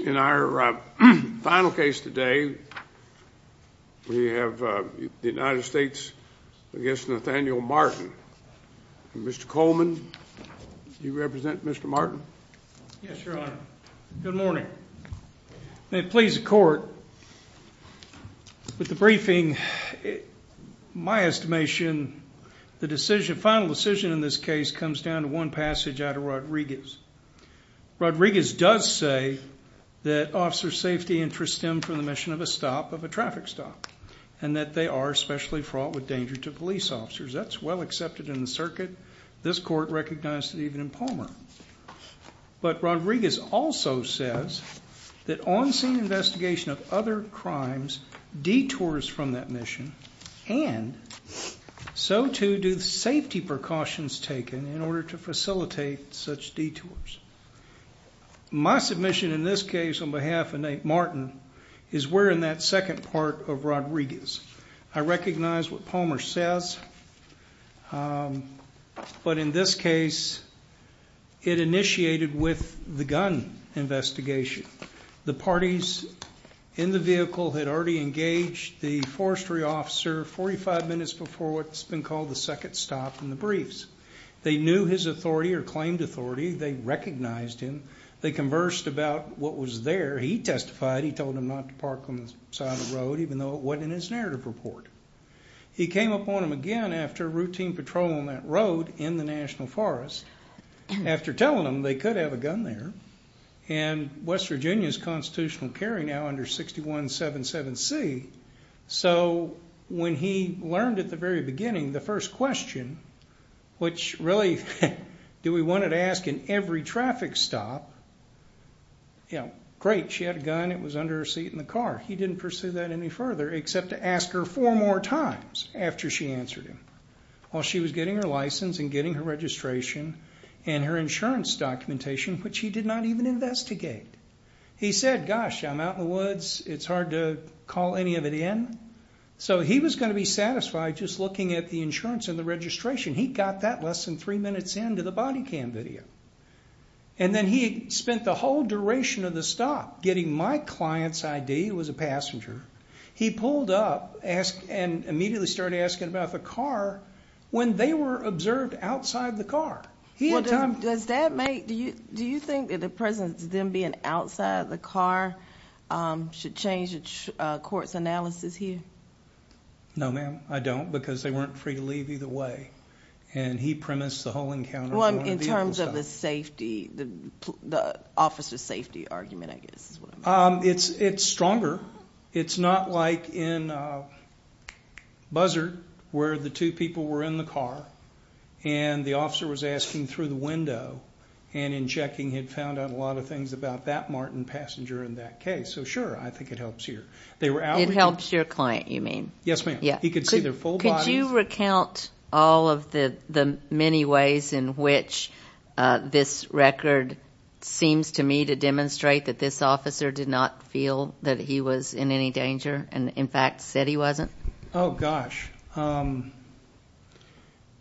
In our final case today, we have the United States v. Nathaniel Martin. Mr. Coleman, you represent Mr. Martin? Yes, Your Honor. Good morning. May it please the Court, with the briefing, my estimation, the final decision in this case comes down to one passage out of Rodriguez. Rodriguez does say that officer safety interests stem from the mission of a stop of a traffic stop, and that they are especially fraught with danger to police officers. That's well accepted in the circuit. This Court recognized it even in Palmer. But Rodriguez also says that on-scene investigation of other crimes detours from that mission, and so too do safety precautions taken in order to facilitate such detours. My submission in this case on behalf of Nate Martin is we're in that second part of Rodriguez. I recognize what Palmer says, but in this case it initiated with the gun investigation. The parties in the vehicle had already engaged the forestry officer 45 minutes before what's been called the second stop in the briefs. They knew his authority or claimed authority. They recognized him. They conversed about what was there. He testified. He told them not to park on the side of the road, even though it wasn't in his narrative report. He came upon them again after routine patrol on that road in the National Forest, after telling them they could have a gun there. West Virginia is constitutional carry now under 6177C. So when he learned at the very beginning, the first question, which really we wanted to ask in every traffic stop, great, she had a gun. It was under her seat in the car. He didn't pursue that any further except to ask her four more times after she answered him. While she was getting her license and getting her registration and her insurance documentation, which he did not even investigate, he said, gosh, I'm out in the woods. It's hard to call any of it in. So he was going to be satisfied just looking at the insurance and the registration. He got that less than three minutes into the body cam video. And then he spent the whole duration of the stop getting my client's ID, who was a passenger. He pulled up and immediately started asking about the car when they were observed outside the car. Do you think that the presence of them being outside the car should change the court's analysis here? No, ma'am, I don't, because they weren't free to leave either way. And he premised the whole encounter. In terms of the safety, the officer's safety argument, I guess is what I mean. It's stronger. It's not like in Buzzard where the two people were in the car and the officer was asking through the window and in checking had found out a lot of things about that Martin passenger in that case. So, sure, I think it helps here. It helps your client, you mean? Yes, ma'am. He could see their full bodies. Could you recount all of the many ways in which this record seems to me to demonstrate that this officer did not feel that he was in any danger and, in fact, said he wasn't? Oh, gosh.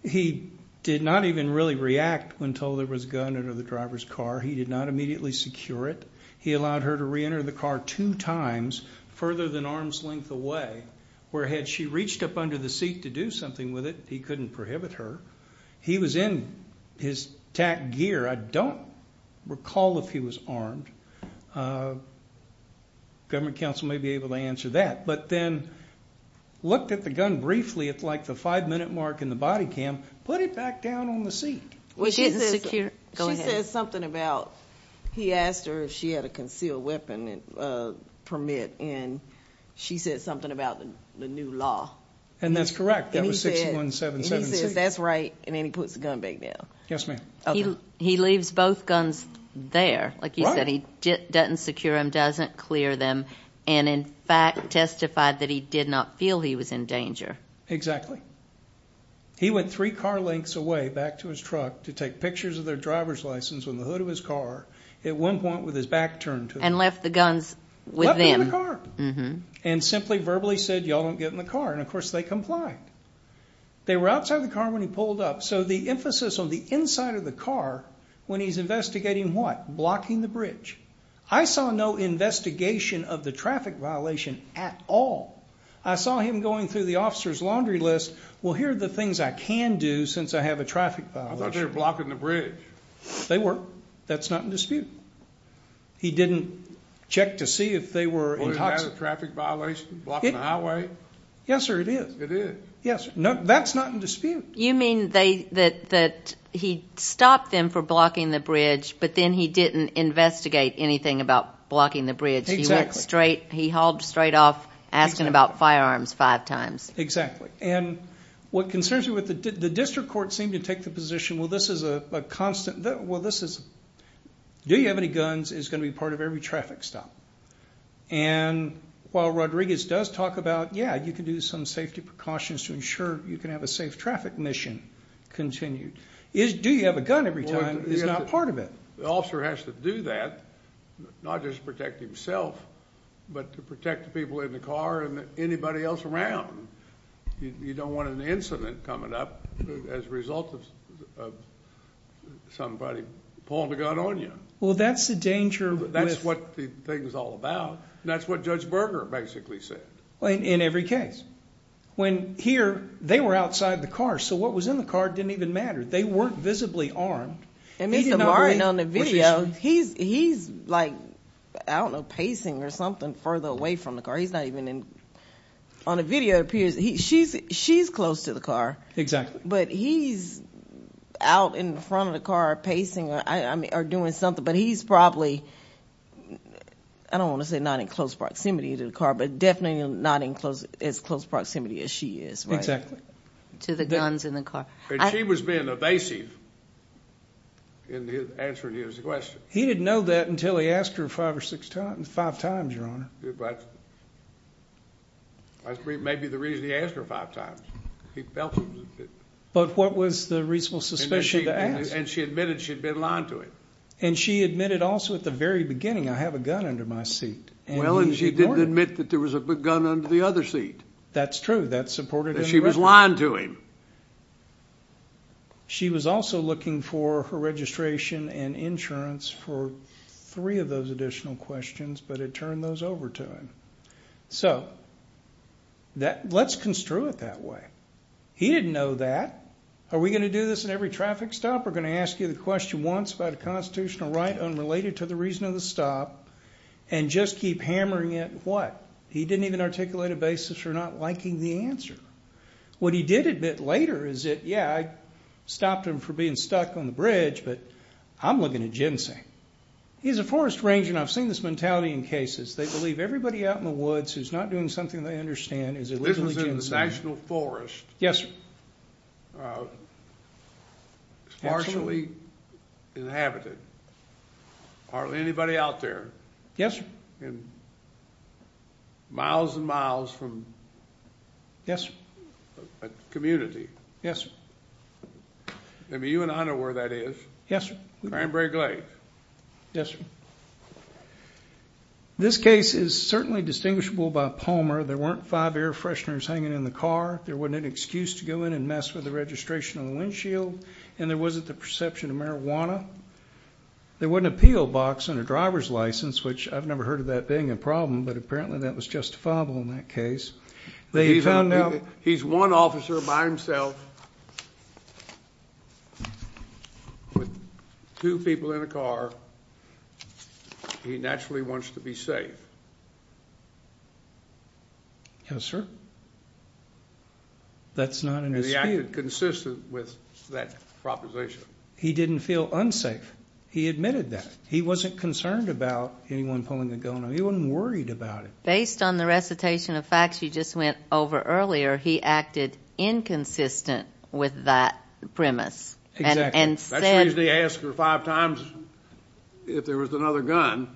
He did not even really react when told there was a gun under the driver's car. He did not immediately secure it. He allowed her to reenter the car two times further than arm's length away, where had she reached up under the seat to do something with it, he couldn't prohibit her. He was in his tack gear. I don't recall if he was armed. Government counsel may be able to answer that. But then looked at the gun briefly at, like, the five-minute mark in the body cam, put it back down on the seat. Well, she didn't secure it. Go ahead. She says something about he asked her if she had a concealed weapon permit, and she said something about the new law. And that's correct. That was 6177C. And he says that's right, and then he puts the gun back down. Yes, ma'am. He leaves both guns there. Right. Like you said, he doesn't secure them, doesn't clear them. And, in fact, testified that he did not feel he was in danger. He went three car lengths away back to his truck to take pictures of their driver's license on the hood of his car, at one point with his back turned to it. And left the guns with them. Left them in the car. And simply verbally said, y'all don't get in the car. And, of course, they complied. They were outside the car when he pulled up. So the emphasis on the inside of the car when he's investigating what? Blocking the bridge. I saw no investigation of the traffic violation at all. I saw him going through the officer's laundry list. Well, here are the things I can do since I have a traffic violation. I thought they were blocking the bridge. They were. That's not in dispute. He didn't check to see if they were intoxicated. Wasn't that a traffic violation, blocking the highway? Yes, sir, it is. It is? Yes, sir. That's not in dispute. You mean that he stopped them for blocking the bridge, but then he didn't investigate anything about blocking the bridge. He went straight, he hauled straight off asking about firearms five times. Exactly. And what concerns me, the district court seemed to take the position, well, this is a constant, well, this is, do you have any guns is going to be part of every traffic stop. And while Rodriguez does talk about, yeah, you can do some safety precautions to ensure you can have a safe traffic mission continued. Do you have a gun every time is not part of it. The officer has to do that, not just protect himself, but to protect the people in the car and anybody else around. You don't want an incident coming up as a result of somebody pulling the gun on you. Well, that's the danger. That's what the thing is all about. And that's what Judge Berger basically said. In every case when here they were outside the car. So what was in the car didn't even matter. They weren't visibly armed. And Mr. Martin on the video, he's, he's like, I don't know, pacing or something further away from the car. He's not even in on a video. It appears he she's, she's close to the car, exactly. But he's out in front of the car pacing. I mean, are doing something, but he's probably, I don't want to say not in close proximity to the car, but definitely not in close as close proximity as she is. To the guns in the car. She was being evasive in answering his question. He didn't know that until he asked her five or six times, five times. Your Honor. That's maybe the reason he asked her five times. But what was the reasonable suspicion? And she admitted she'd been lying to him. And she admitted also at the very beginning, I have a gun under my seat. Well, and she didn't admit that there was a gun under the other seat. That's true. That's supported. She was lying to him. She was also looking for her registration and insurance for three of those additional questions, but it turned those over to him. So that let's construe it that way. He didn't know that. Are we going to do this in every traffic stop? We're going to ask you the question once about a constitutional right unrelated to the reason of the stop. And just keep hammering it. What? He didn't even articulate a basis for not liking the answer. What he did admit later is that, yeah, I stopped him from being stuck on the bridge, but I'm looking at ginseng. He's a forest ranger, and I've seen this mentality in cases. They believe everybody out in the woods who's not doing something they understand is illegally ginseng. This was in the national forest. Yes, sir. Partially inhabited. Hardly anybody out there. Yes, sir. Miles and miles from a community. Yes, sir. I mean, you and I know where that is. Yes, sir. Cranberry Glades. Yes, sir. This case is certainly distinguishable by Palmer. There weren't five air fresheners hanging in the car. There wasn't an excuse to go in and mess with the registration on the windshield, and there wasn't the perception of marijuana. There wasn't a PO box and a driver's license, which I've never heard of that being a problem, but apparently that was justifiable in that case. He's one officer by himself with two people in a car. He naturally wants to be safe. Yes, sir. That's not an excuse. He acted consistent with that proposition. He didn't feel unsafe. He admitted that. He wasn't concerned about anyone pulling a gun on him. He wasn't worried about it. Based on the recitation of facts you just went over earlier, he acted inconsistent with that premise. That's the reason he asked her five times if there was another gun,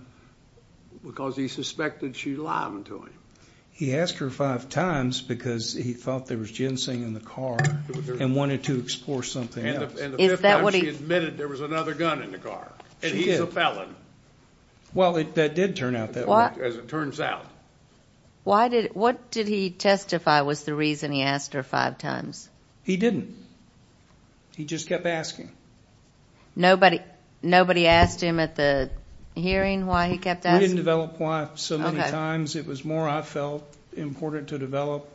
because he suspected she'd lie to him. He asked her five times because he thought there was ginseng in the car and wanted to explore something else. And the fifth time she admitted there was another gun in the car, and he's a felon. Well, that did turn out that way, as it turns out. What did he testify was the reason he asked her five times? He didn't. He just kept asking. Nobody asked him at the hearing why he kept asking? We didn't develop why so many times. It was more I felt important to develop.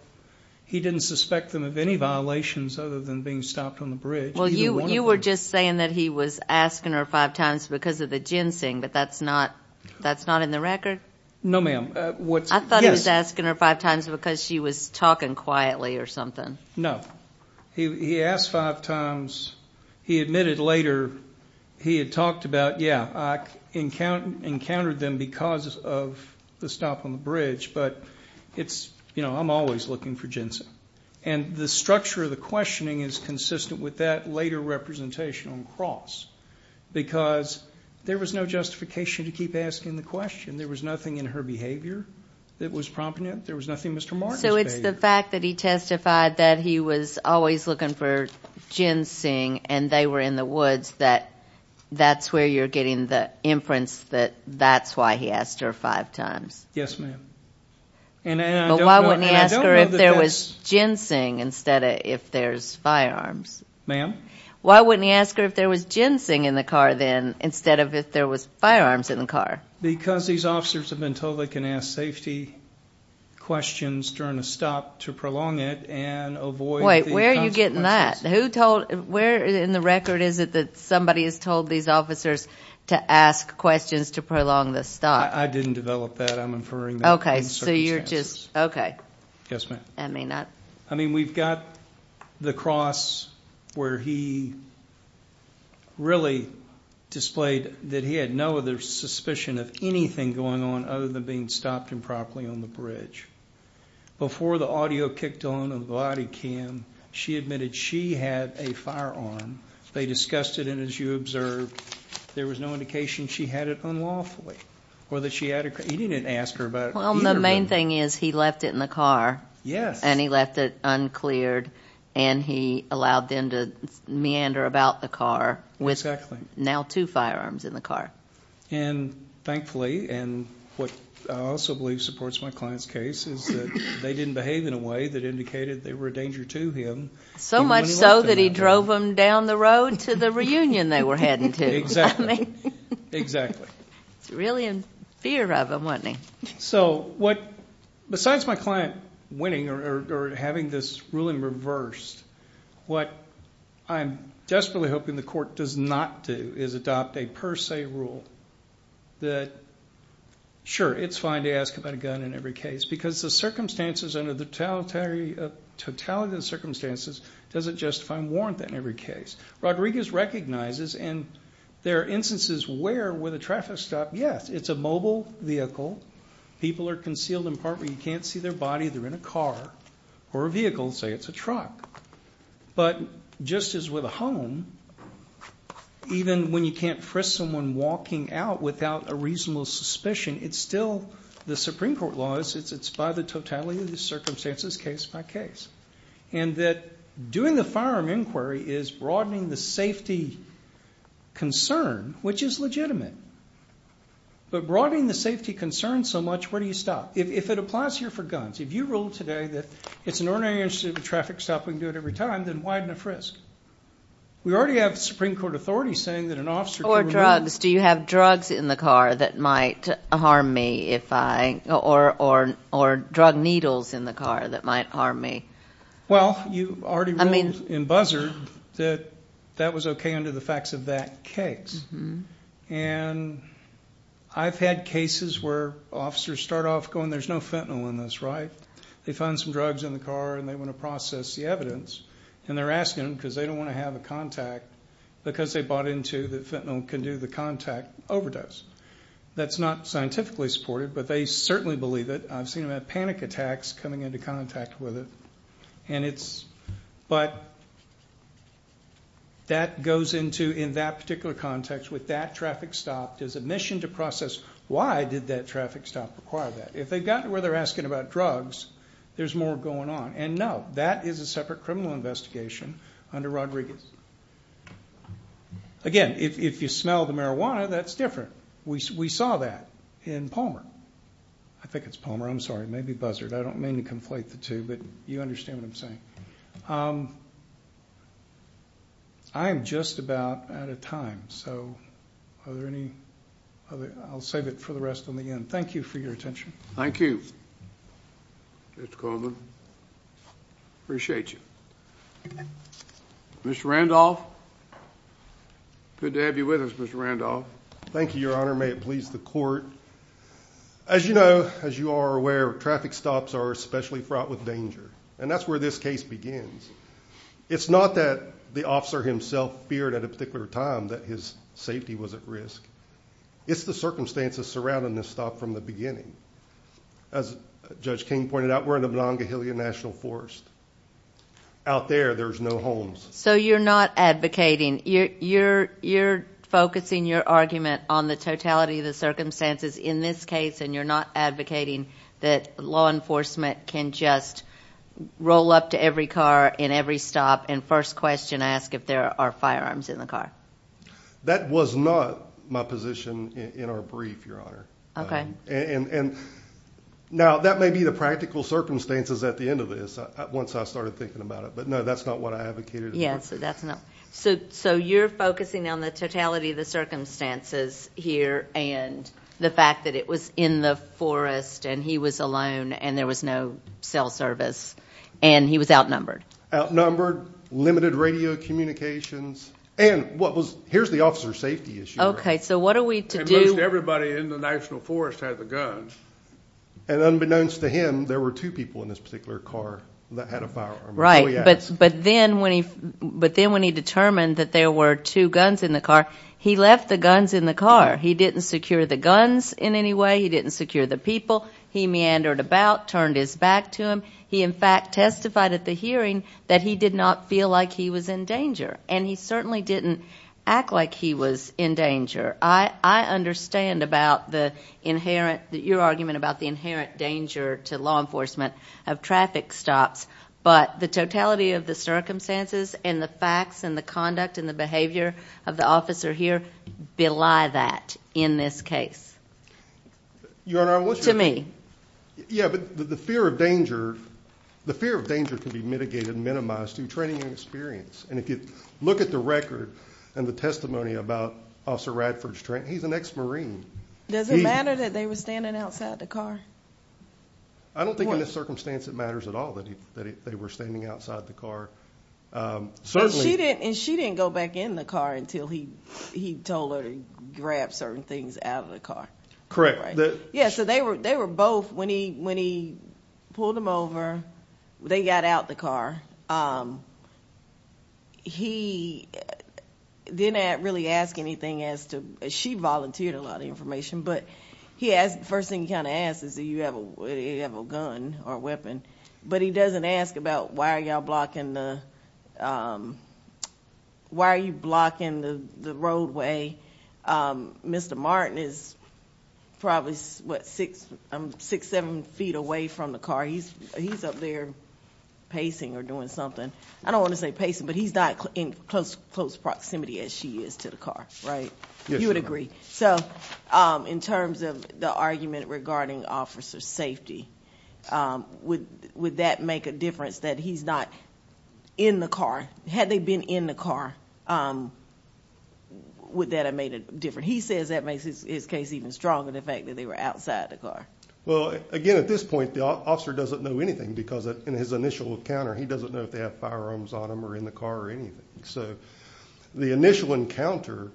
He didn't suspect them of any violations other than being stopped on the bridge. Well, you were just saying that he was asking her five times because of the ginseng, but that's not in the record? No, ma'am. I thought he was asking her five times because she was talking quietly or something. No. He asked five times. He admitted later he had talked about, yeah, I encountered them because of the stop on the bridge, but I'm always looking for ginseng. And the structure of the questioning is consistent with that later representation on cross because there was no justification to keep asking the question. There was nothing in her behavior that was prompting it. There was nothing Mr. Martin's behavior. So it's the fact that he testified that he was always looking for ginseng, and they were in the woods, that that's where you're getting the inference that that's why he asked her five times. Yes, ma'am. But why wouldn't he ask her if there was ginseng instead of if there's firearms? Ma'am? Why wouldn't he ask her if there was ginseng in the car then instead of if there was firearms in the car? Because these officers have been told they can ask safety questions during a stop to prolong it and avoid the consequences. Wait, where are you getting that? Who told, where in the record is it that somebody has told these officers to ask questions to prolong the stop? I didn't develop that. I'm inferring that. Okay, so you're just, okay. Yes, ma'am. I mean, we've got the cross where he really displayed that he had no other suspicion of anything going on other than being stopped improperly on the bridge. Before the audio kicked on on the body cam, she admitted she had a firearm. They discussed it, and as you observed, there was no indication she had it unlawfully. He didn't ask her about it. Well, the main thing is he left it in the car. Yes. And he left it uncleared, and he allowed them to meander about the car with now two firearms in the car. And thankfully, and what I also believe supports my client's case, is that they didn't behave in a way that indicated they were a danger to him. So much so that he drove them down the road to the reunion they were heading to. Exactly. He was really in fear of them, wasn't he? So besides my client winning or having this ruling reversed, what I'm desperately hoping the court does not do is adopt a per se rule that, sure, it's fine to ask about a gun in every case because the circumstances under the totality of the circumstances doesn't justify and warrant that in every case. Rodriguez recognizes, and there are instances where, with a traffic stop, yes, it's a mobile vehicle. People are concealed in a part where you can't see their body. They're in a car or a vehicle. Say it's a truck. But just as with a home, even when you can't frisk someone walking out without a reasonable suspicion, it's still the Supreme Court law. It's by the totality of the circumstances, case by case. And that doing the firearm inquiry is broadening the safety concern, which is legitimate. But broadening the safety concern so much, where do you stop? If it applies here for guns, if you rule today that it's an ordinary incident with a traffic stop, we can do it every time, then widen the frisk. We already have Supreme Court authority saying that an officer can remove. Do you have drugs in the car that might harm me, or drug needles in the car that might harm me? Well, you already ruled in Buzzer that that was okay under the facts of that case. And I've had cases where officers start off going, there's no fentanyl in this, right? They find some drugs in the car, and they want to process the evidence. And they're asking them because they don't want to have a contact because they bought into that fentanyl can do the contact overdose. That's not scientifically supported, but they certainly believe it. I've seen them have panic attacks coming into contact with it. But that goes into, in that particular context, with that traffic stop, there's a mission to process why did that traffic stop require that. If they've gotten to where they're asking about drugs, there's more going on. And no, that is a separate criminal investigation under Rodriguez. Again, if you smell the marijuana, that's different. We saw that in Palmer. I think it's Palmer, I'm sorry. It may be Buzzard. I don't mean to conflate the two, but you understand what I'm saying. I am just about out of time, so are there any other? I'll save it for the rest on the end. Thank you for your attention. Thank you, Mr. Coleman. Appreciate you. Mr. Randolph, good to have you with us, Mr. Randolph. Thank you, Your Honor. May it please the court. As you know, as you are aware, traffic stops are especially fraught with danger, and that's where this case begins. It's not that the officer himself feared at a particular time that his safety was at risk. It's the circumstances surrounding this stop from the beginning. As Judge King pointed out, we're in the Monongahela National Forest. Out there, there's no homes. So you're not advocating. You're focusing your argument on the totality of the circumstances in this case, and you're not advocating that law enforcement can just roll up to every car in every stop and first question ask if there are firearms in the car. That was not my position in our brief, Your Honor. Now, that may be the practical circumstances at the end of this once I started thinking about it, but, no, that's not what I advocated. So you're focusing on the totality of the circumstances here and the fact that it was in the forest and he was alone and there was no cell service and he was outnumbered. Outnumbered, limited radio communications, and here's the officer's safety issue. So what are we to do? And most everybody in the National Forest had the guns. And unbeknownst to him, there were two people in this particular car that had a firearm. Right. But then when he determined that there were two guns in the car, he left the guns in the car. He didn't secure the guns in any way. He didn't secure the people. He meandered about, turned his back to him. He, in fact, testified at the hearing that he did not feel like he was in danger, and he certainly didn't act like he was in danger. I understand your argument about the inherent danger to law enforcement of traffic stops, but the totality of the circumstances and the facts and the conduct and the behavior of the officer here belie that in this case. Your Honor, I want you to think. Yeah, but the fear of danger can be mitigated and minimized through training and experience. And if you look at the record and the testimony about Officer Radford's training, he's an ex-Marine. Does it matter that they were standing outside the car? I don't think in this circumstance it matters at all that they were standing outside the car. And she didn't go back in the car until he told her to grab certain things out of the car. Correct. Yeah, so they were both, when he pulled them over, they got out the car. He didn't really ask anything as to, she volunteered a lot of information, but the first thing he kind of asks is, do you have a gun or a weapon? But he doesn't ask about, why are you blocking the roadway? Mr. Martin is probably, what, six, seven feet away from the car. He's up there pacing or doing something. I don't want to say pacing, but he's not in close proximity as she is to the car, right? Yes, Your Honor. You would agree. So in terms of the argument regarding Officer's safety, would that make a difference that he's not in the car? Had they been in the car, would that have made a difference? He says that makes his case even stronger, the fact that they were outside the car. Well, again, at this point the officer doesn't know anything because in his initial encounter he doesn't know if they have firearms on them or in the car or anything. So the initial encounter,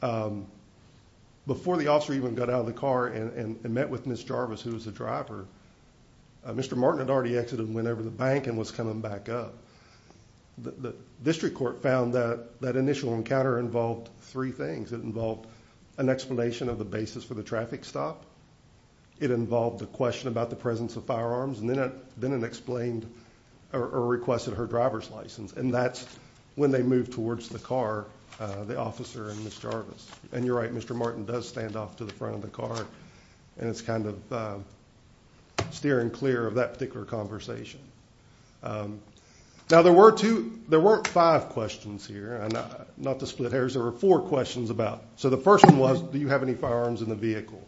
before the officer even got out of the car and met with Ms. Jarvis, who was the driver, Mr. Martin had already exited and went over to the bank and was coming back up. The district court found that that initial encounter involved three things. It involved an explanation of the basis for the traffic stop. It involved a question about the presence of firearms. And then it explained or requested her driver's license. And that's when they moved towards the car, the officer and Ms. Jarvis. And you're right, Mr. Martin does stand off to the front of the car. And it's kind of steering clear of that particular conversation. Now, there were five questions here, not to split hairs. There were four questions about it. So the first one was, do you have any firearms in the vehicle?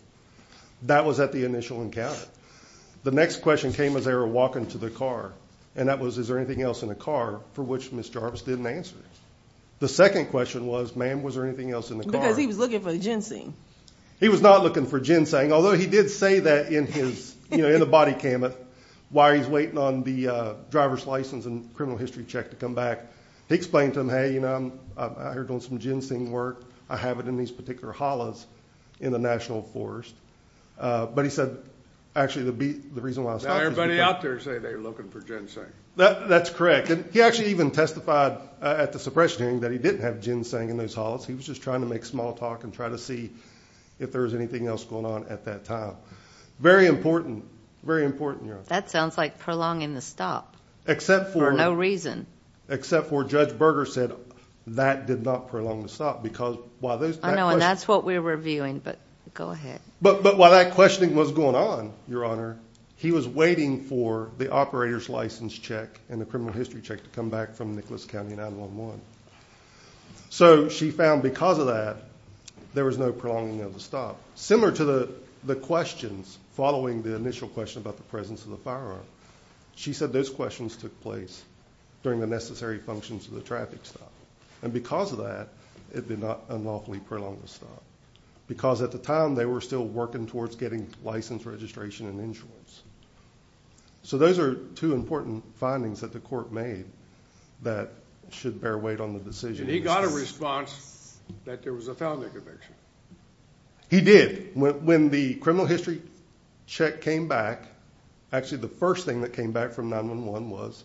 That was at the initial encounter. The next question came as they were walking to the car, and that was, is there anything else in the car, for which Ms. Jarvis didn't answer. The second question was, ma'am, was there anything else in the car? Because he was looking for the ginseng. He was not looking for ginseng, although he did say that in his, you know, in a body cam of why he's waiting on the driver's license and criminal history check to come back. He explained to them, hey, you know, I'm out here doing some ginseng work. I have it in these particular hollows in the National Forest. But he said, actually, the reason why I stopped is because – Now everybody out there is saying they're looking for ginseng. That's correct. And he actually even testified at the suppression hearing that he didn't have ginseng in those hollows. He was just trying to make small talk and try to see if there was anything else going on at that time. Very important, very important, Your Honor. That sounds like prolonging the stop for no reason. Except for Judge Berger said that did not prolong the stop because while those – I know, and that's what we were viewing, but go ahead. But while that questioning was going on, Your Honor, he was waiting for the operator's license check and the criminal history check to come back from Nicholas County 9-1-1. So she found because of that, there was no prolonging of the stop. Similar to the questions following the initial question about the presence of the firearm, she said those questions took place during the necessary functions of the traffic stop. And because of that, it did not unlawfully prolong the stop because at the time they were still working towards getting license registration and insurance. So those are two important findings that the court made that should bear weight on the decision. And he got a response that there was a felony conviction. He did. When the criminal history check came back, actually the first thing that came back from 9-1-1 was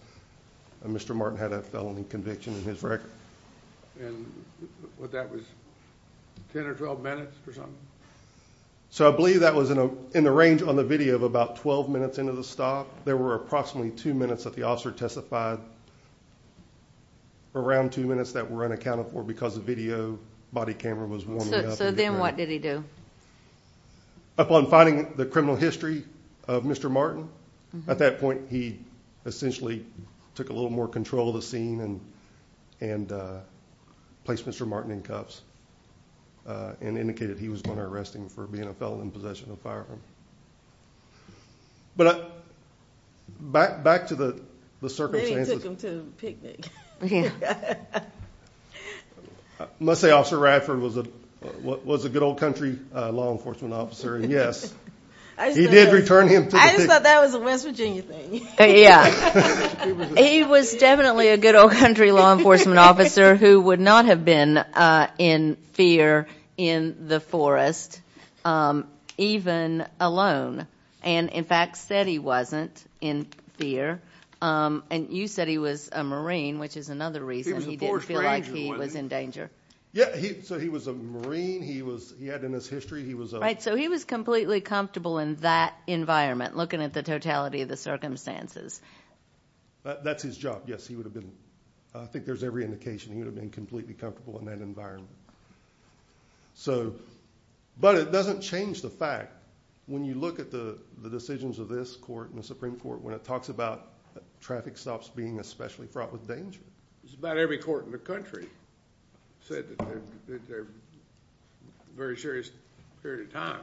Mr. Martin had a felony conviction in his record. And that was 10 or 12 minutes or something? So I believe that was in the range on the video of about 12 minutes into the stop. There were approximately two minutes that the officer testified, around two minutes that were unaccounted for because the video body camera was warming up. So then what did he do? Upon finding the criminal history of Mr. Martin, at that point he essentially took a little more control of the scene and placed Mr. Martin in cuffs and indicated he was going to arrest him for being a felon in possession of a firearm. But back to the circumstances. Maybe he took him to a picnic. I must say Officer Radford was a good old country law enforcement officer, and yes. He did return him to the picnic. I just thought that was a West Virginia thing. Yeah. He was definitely a good old country law enforcement officer who would not have been in fear in the forest, even alone. And, in fact, said he wasn't in fear. And you said he was a Marine, which is another reason he didn't feel like he was in danger. Yeah, so he was a Marine. He had in his history he was a— Right, so he was completely comfortable in that environment, looking at the totality of the circumstances. That's his job, yes. I think there's every indication he would have been completely comfortable in that environment. But it doesn't change the fact, when you look at the decisions of this court and the Supreme Court, when it talks about traffic stops being especially fraught with danger. About every court in the country said that they're in a very serious period of time.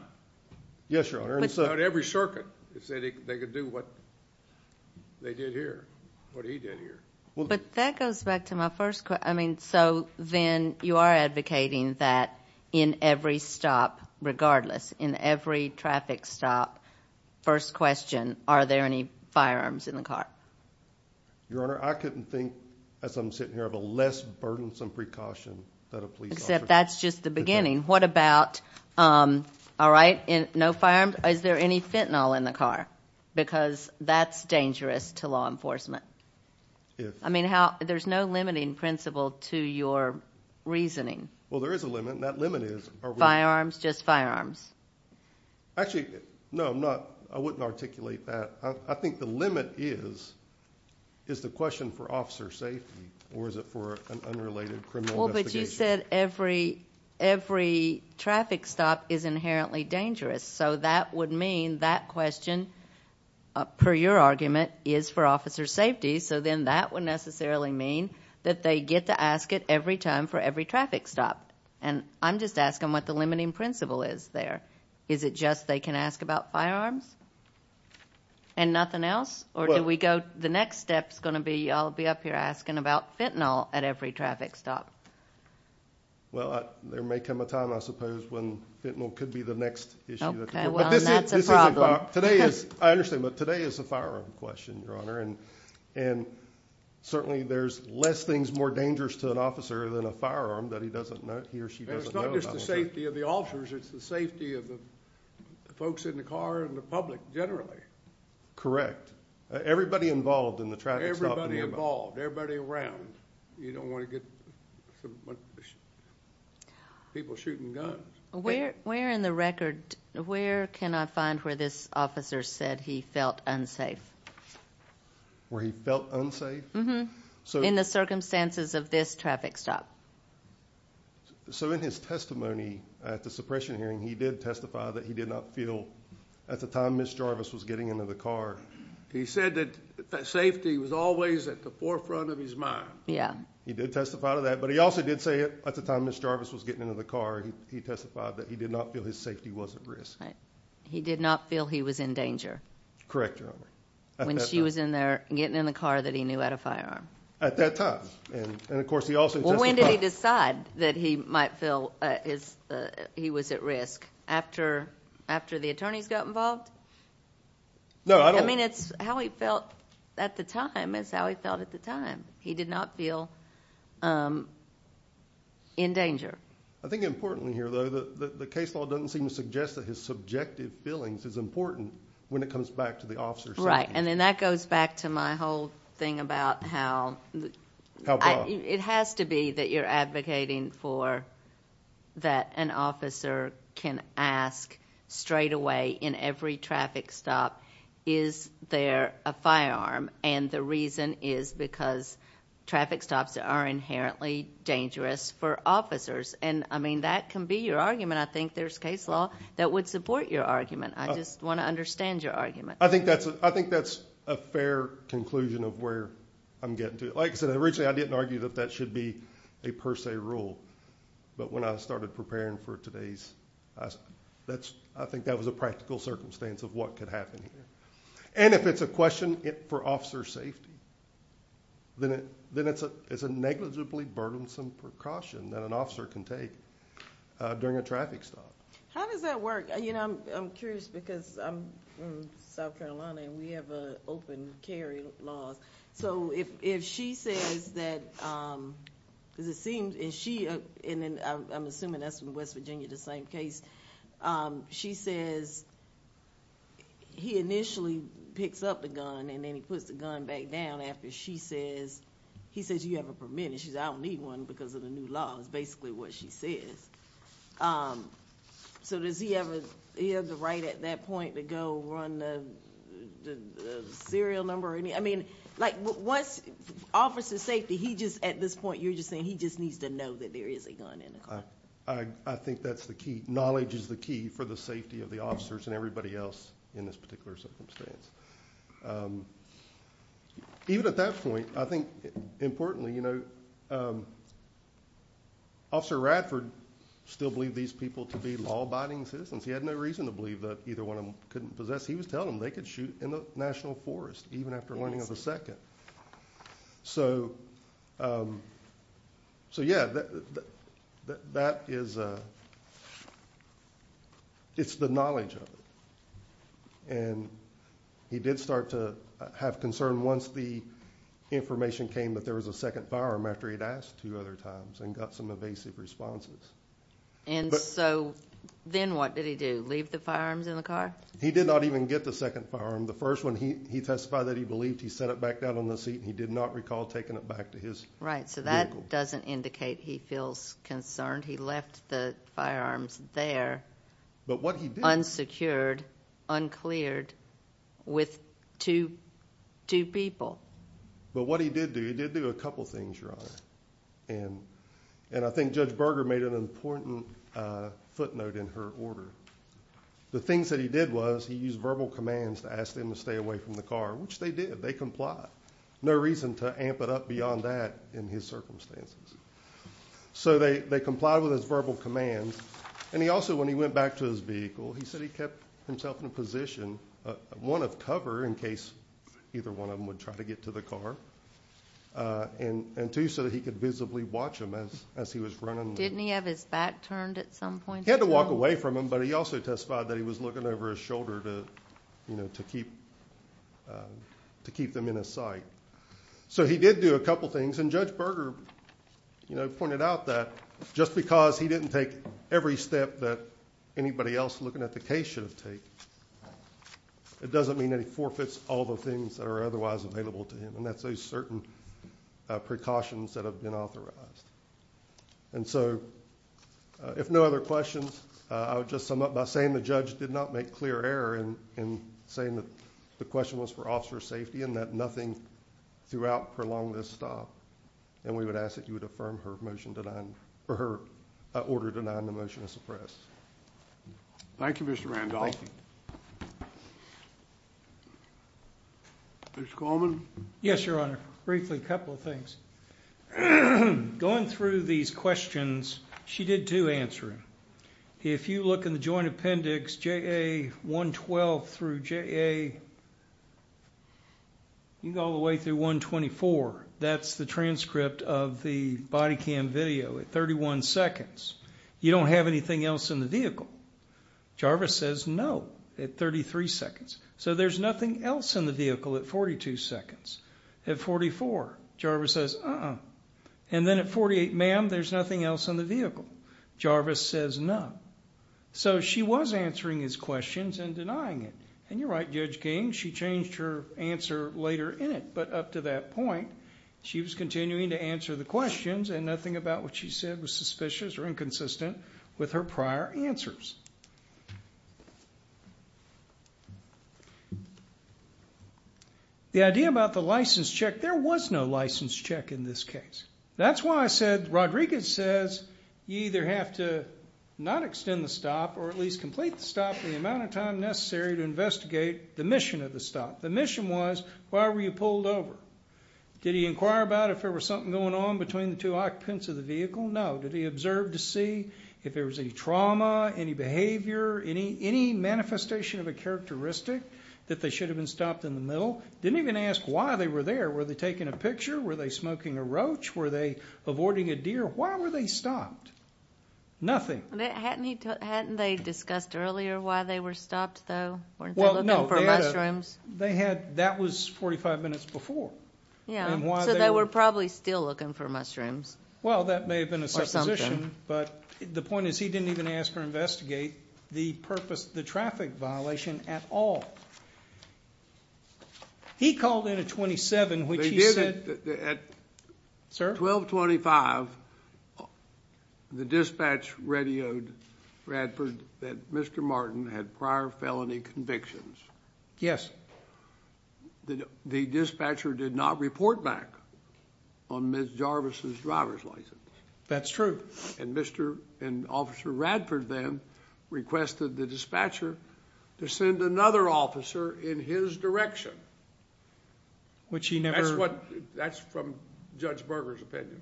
Yes, Your Honor. About every circuit that said they could do what they did here, what he did here. But that goes back to my first question. I mean, so then you are advocating that in every stop, regardless, in every traffic stop, first question, are there any firearms in the car? Your Honor, I couldn't think, as I'm sitting here, of a less burdensome precaution than a police officer. Except that's just the beginning. What about, all right, no firearms? Is there any fentanyl in the car? Because that's dangerous to law enforcement. I mean, there's no limiting principle to your reasoning. Well, there is a limit, and that limit is. Firearms, just firearms. Actually, no, I'm not, I wouldn't articulate that. I think the limit is, is the question for officer safety, or is it for an unrelated criminal investigation? Well, but you said every traffic stop is inherently dangerous. So that would mean that question, per your argument, is for officer safety. So then that would necessarily mean that they get to ask it every time for every traffic stop. And I'm just asking what the limiting principle is there. Is it just they can ask about firearms and nothing else? Or do we go, the next step is going to be, I'll be up here asking about fentanyl at every traffic stop. Well, there may come a time, I suppose, when fentanyl could be the next issue. Okay, well, that's a problem. Today is, I understand, but today is a firearm question, Your Honor. And certainly there's less things more dangerous to an officer than a firearm that he doesn't know, he or she doesn't know about. It's not just the safety of the officers, it's the safety of the folks in the car and the public generally. Correct. Everybody involved in the traffic stop. Everybody involved, everybody around. You don't want to get people shooting guns. Where in the record, where can I find where this officer said he felt unsafe? Where he felt unsafe? In the circumstances of this traffic stop. So in his testimony at the suppression hearing, he did testify that he did not feel, at the time Ms. Jarvis was getting into the car. He said that safety was always at the forefront of his mind. Yeah. He did testify to that. But he also did say at the time Ms. Jarvis was getting into the car, he testified that he did not feel his safety was at risk. Right. He did not feel he was in danger. Correct, Your Honor. When she was in there getting in the car that he knew had a firearm. At that time. And, of course, he also testified. When did he decide that he might feel he was at risk? After the attorneys got involved? No, I don't think. I mean, it's how he felt at the time. It's how he felt at the time. He did not feel in danger. I think importantly here, though, the case law doesn't seem to suggest that his subjective feelings is important when it comes back to the officer's safety. Right. And then that goes back to my whole thing about how. How broad. It has to be that you're advocating for that an officer can ask straight away in every traffic stop, is there a firearm? And the reason is because traffic stops are inherently dangerous for officers. And, I mean, that can be your argument. I think there's case law that would support your argument. I just want to understand your argument. I think that's a fair conclusion of where I'm getting to. Like I said, originally I didn't argue that that should be a per se rule. But when I started preparing for today's, I think that was a practical circumstance of what could happen here. And if it's a question for officer safety, then it's a negligibly burdensome precaution that an officer can take during a traffic stop. How does that work? You know, I'm curious because I'm from South Carolina and we have an open carry law. So if she says that, and I'm assuming that's in West Virginia, the same case, she says he initially picks up the gun and then he puts the gun back down after she says, he says you have a permit. And she says I don't need one because of the new law is basically what she says. So does he have the right at that point to go run the serial number? I mean, like once officer safety, he just at this point, you're just saying he just needs to know that there is a gun in the car. I think that's the key. Knowledge is the key for the safety of the officers and everybody else in this particular circumstance. Even at that point, I think importantly, you know, Officer Radford still believed these people to be law abiding citizens. He had no reason to believe that either one of them couldn't possess. He was telling them they could shoot in the National Forest even after learning of the second. So yeah, that is, it's the knowledge of it. And he did start to have concern once the information came that there was a second firearm after he'd asked two other times and got some evasive responses. And so then what did he do? Leave the firearms in the car? He did not even get the second firearm. The first one he testified that he believed he set it back down on the seat. He did not recall taking it back to his right. So that doesn't indicate he feels concerned. He left the firearms there. But what he did unsecured, uncleared with two, two people. But what he did do, he did do a couple of things wrong. And and I think Judge Berger made an important footnote in her order. The things that he did was he used verbal commands to ask them to stay away from the car, which they did. They complied. No reason to amp it up beyond that in his circumstances. So they complied with his verbal commands. And he also, when he went back to his vehicle, he said he kept himself in a position, one, of cover in case either one of them would try to get to the car. And two, so that he could visibly watch him as he was running. Didn't he have his back turned at some point? He had to walk away from him, but he also testified that he was looking over his shoulder to, you know, to keep, to keep them in his sight. So he did do a couple things. And Judge Berger, you know, pointed out that just because he didn't take every step that anybody else looking at the case should have taken, it doesn't mean that he forfeits all the things that are otherwise available to him. And that's a certain precautions that have been authorized. And so if no other questions, I would just sum up by saying the judge did not make clear error in saying that the question was for officer safety and that nothing throughout prolonged this stop. And we would ask that you would affirm her motion for her order denying the motion to suppress. Thank you, Mr. Randolph. Mr. Coleman? Yes, Your Honor. Briefly, a couple of things. Going through these questions, she did do answer them. If you look in the joint appendix, JA112 through JA, you can go all the way through 124. That's the transcript of the body cam video at 31 seconds. You don't have anything else in the vehicle. Jarvis says no at 33 seconds. So there's nothing else in the vehicle at 42 seconds. At 44, Jarvis says uh-uh. And then at 48, ma'am, there's nothing else in the vehicle. Jarvis says no. So she was answering his questions and denying it. And you're right, Judge King, she changed her answer later in it. But up to that point, she was continuing to answer the questions, and nothing about what she said was suspicious or inconsistent with her prior answers. The idea about the license check, there was no license check in this case. That's why I said, Rodriguez says you either have to not extend the stop or at least complete the stop in the amount of time necessary to investigate the mission of the stop. The mission was, why were you pulled over? Did he inquire about if there was something going on between the two occupants of the vehicle? No. Did he observe to see if there was any trauma, any bad behavior? Any manifestation of a characteristic that they should have been stopped in the middle? Didn't even ask why they were there. Were they taking a picture? Were they smoking a roach? Were they avoiding a deer? Why were they stopped? Nothing. Hadn't they discussed earlier why they were stopped, though? Weren't they looking for mushrooms? That was 45 minutes before. So they were probably still looking for mushrooms. Well, that may have been a supposition. But the point is he didn't even ask or investigate the purpose, the traffic violation at all. He called in a 27, which he said. Sir? At 1225, the dispatch radioed Radford that Mr. Martin had prior felony convictions. Yes. The dispatcher did not report back on Ms. Jarvis' driver's license. That's true. And Mr. and Officer Radford then requested the dispatcher to send another officer in his direction. Which he never... That's from Judge Berger's opinion.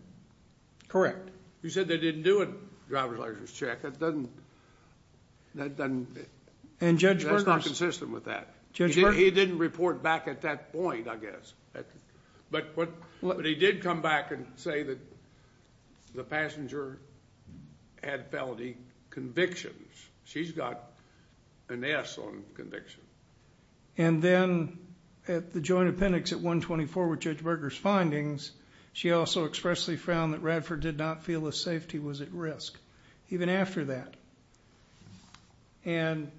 Correct. He said they didn't do a driver's license check. That doesn't... And Judge Berger... That's not consistent with that. Judge Berger... He didn't report back at that point, I guess. But he did come back and say that the passenger had felony convictions. She's got an S on convictions. And then at the joint appendix at 124 with Judge Berger's findings, she also expressly found that Radford did not feel the safety was at risk, even after that. And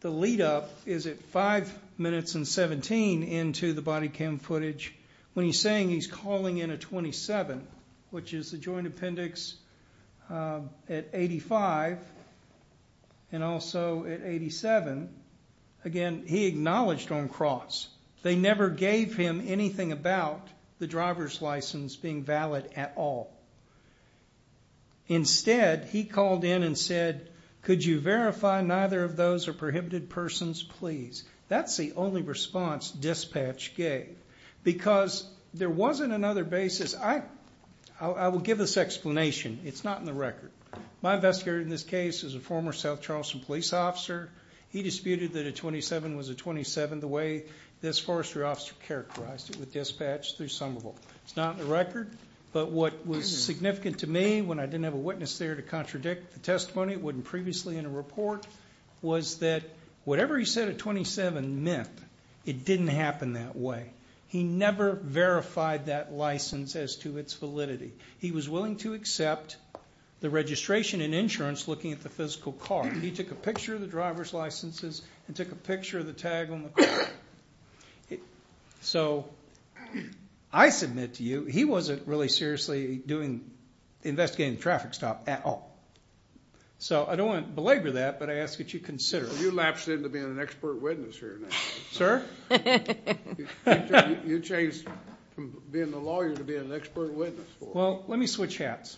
the lead up is at 5 minutes and 17 into the body cam footage, when he's saying he's calling in a 27, which is the joint appendix at 85 and also at 87. Again, he acknowledged on cross. They never gave him anything about the driver's license being valid at all. Instead, he called in and said, Could you verify neither of those are prohibited persons, please? That's the only response dispatch gave. Because there wasn't another basis. I will give this explanation. It's not in the record. My investigator in this case is a former South Charleston police officer. He disputed that a 27 was a 27 the way this forestry officer characterized it with dispatch through some of them. It's not in the record. But what was significant to me when I didn't have a witness there to contradict the testimony, it wasn't previously in a report, was that whatever he said a 27 meant, it didn't happen that way. He never verified that license as to its validity. He was willing to accept the registration and insurance looking at the physical car. He took a picture of the driver's licenses and took a picture of the tag on the car. So I submit to you, he wasn't really seriously investigating the traffic stop at all. So I don't want to belabor that, but I ask that you consider it. You lapsed into being an expert witness here. Sir? You changed from being a lawyer to being an expert witness. Well, let me switch hats.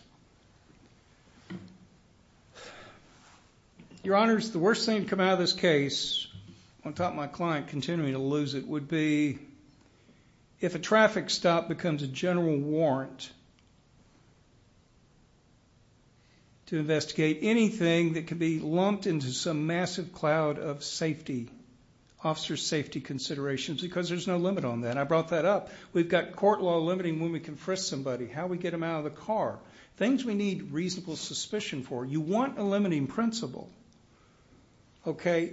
Your Honors, the worst thing to come out of this case, on top of my client continuing to lose it, would be if a traffic stop becomes a general warrant to investigate anything that could be lumped into some massive cloud of safety, officer safety considerations, because there's no limit on that. I brought that up. We've got court law limiting when we can frisk somebody, how we get them out of the car, things we need reasonable suspicion for. You want a limiting principle, okay?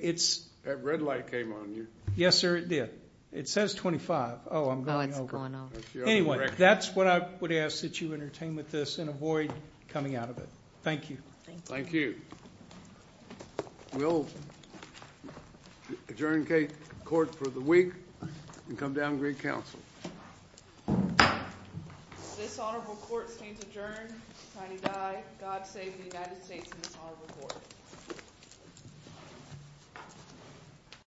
That red light came on you. Yes, sir, it did. It says 25. Oh, I'm going over. Oh, it's going over. Anyway, that's what I would ask that you entertain with this and avoid coming out of it. Thank you. Thank you. We'll adjourn court for the week and come down to great counsel. This honorable court stands adjourned. Time to die. God save the United States and this honorable court.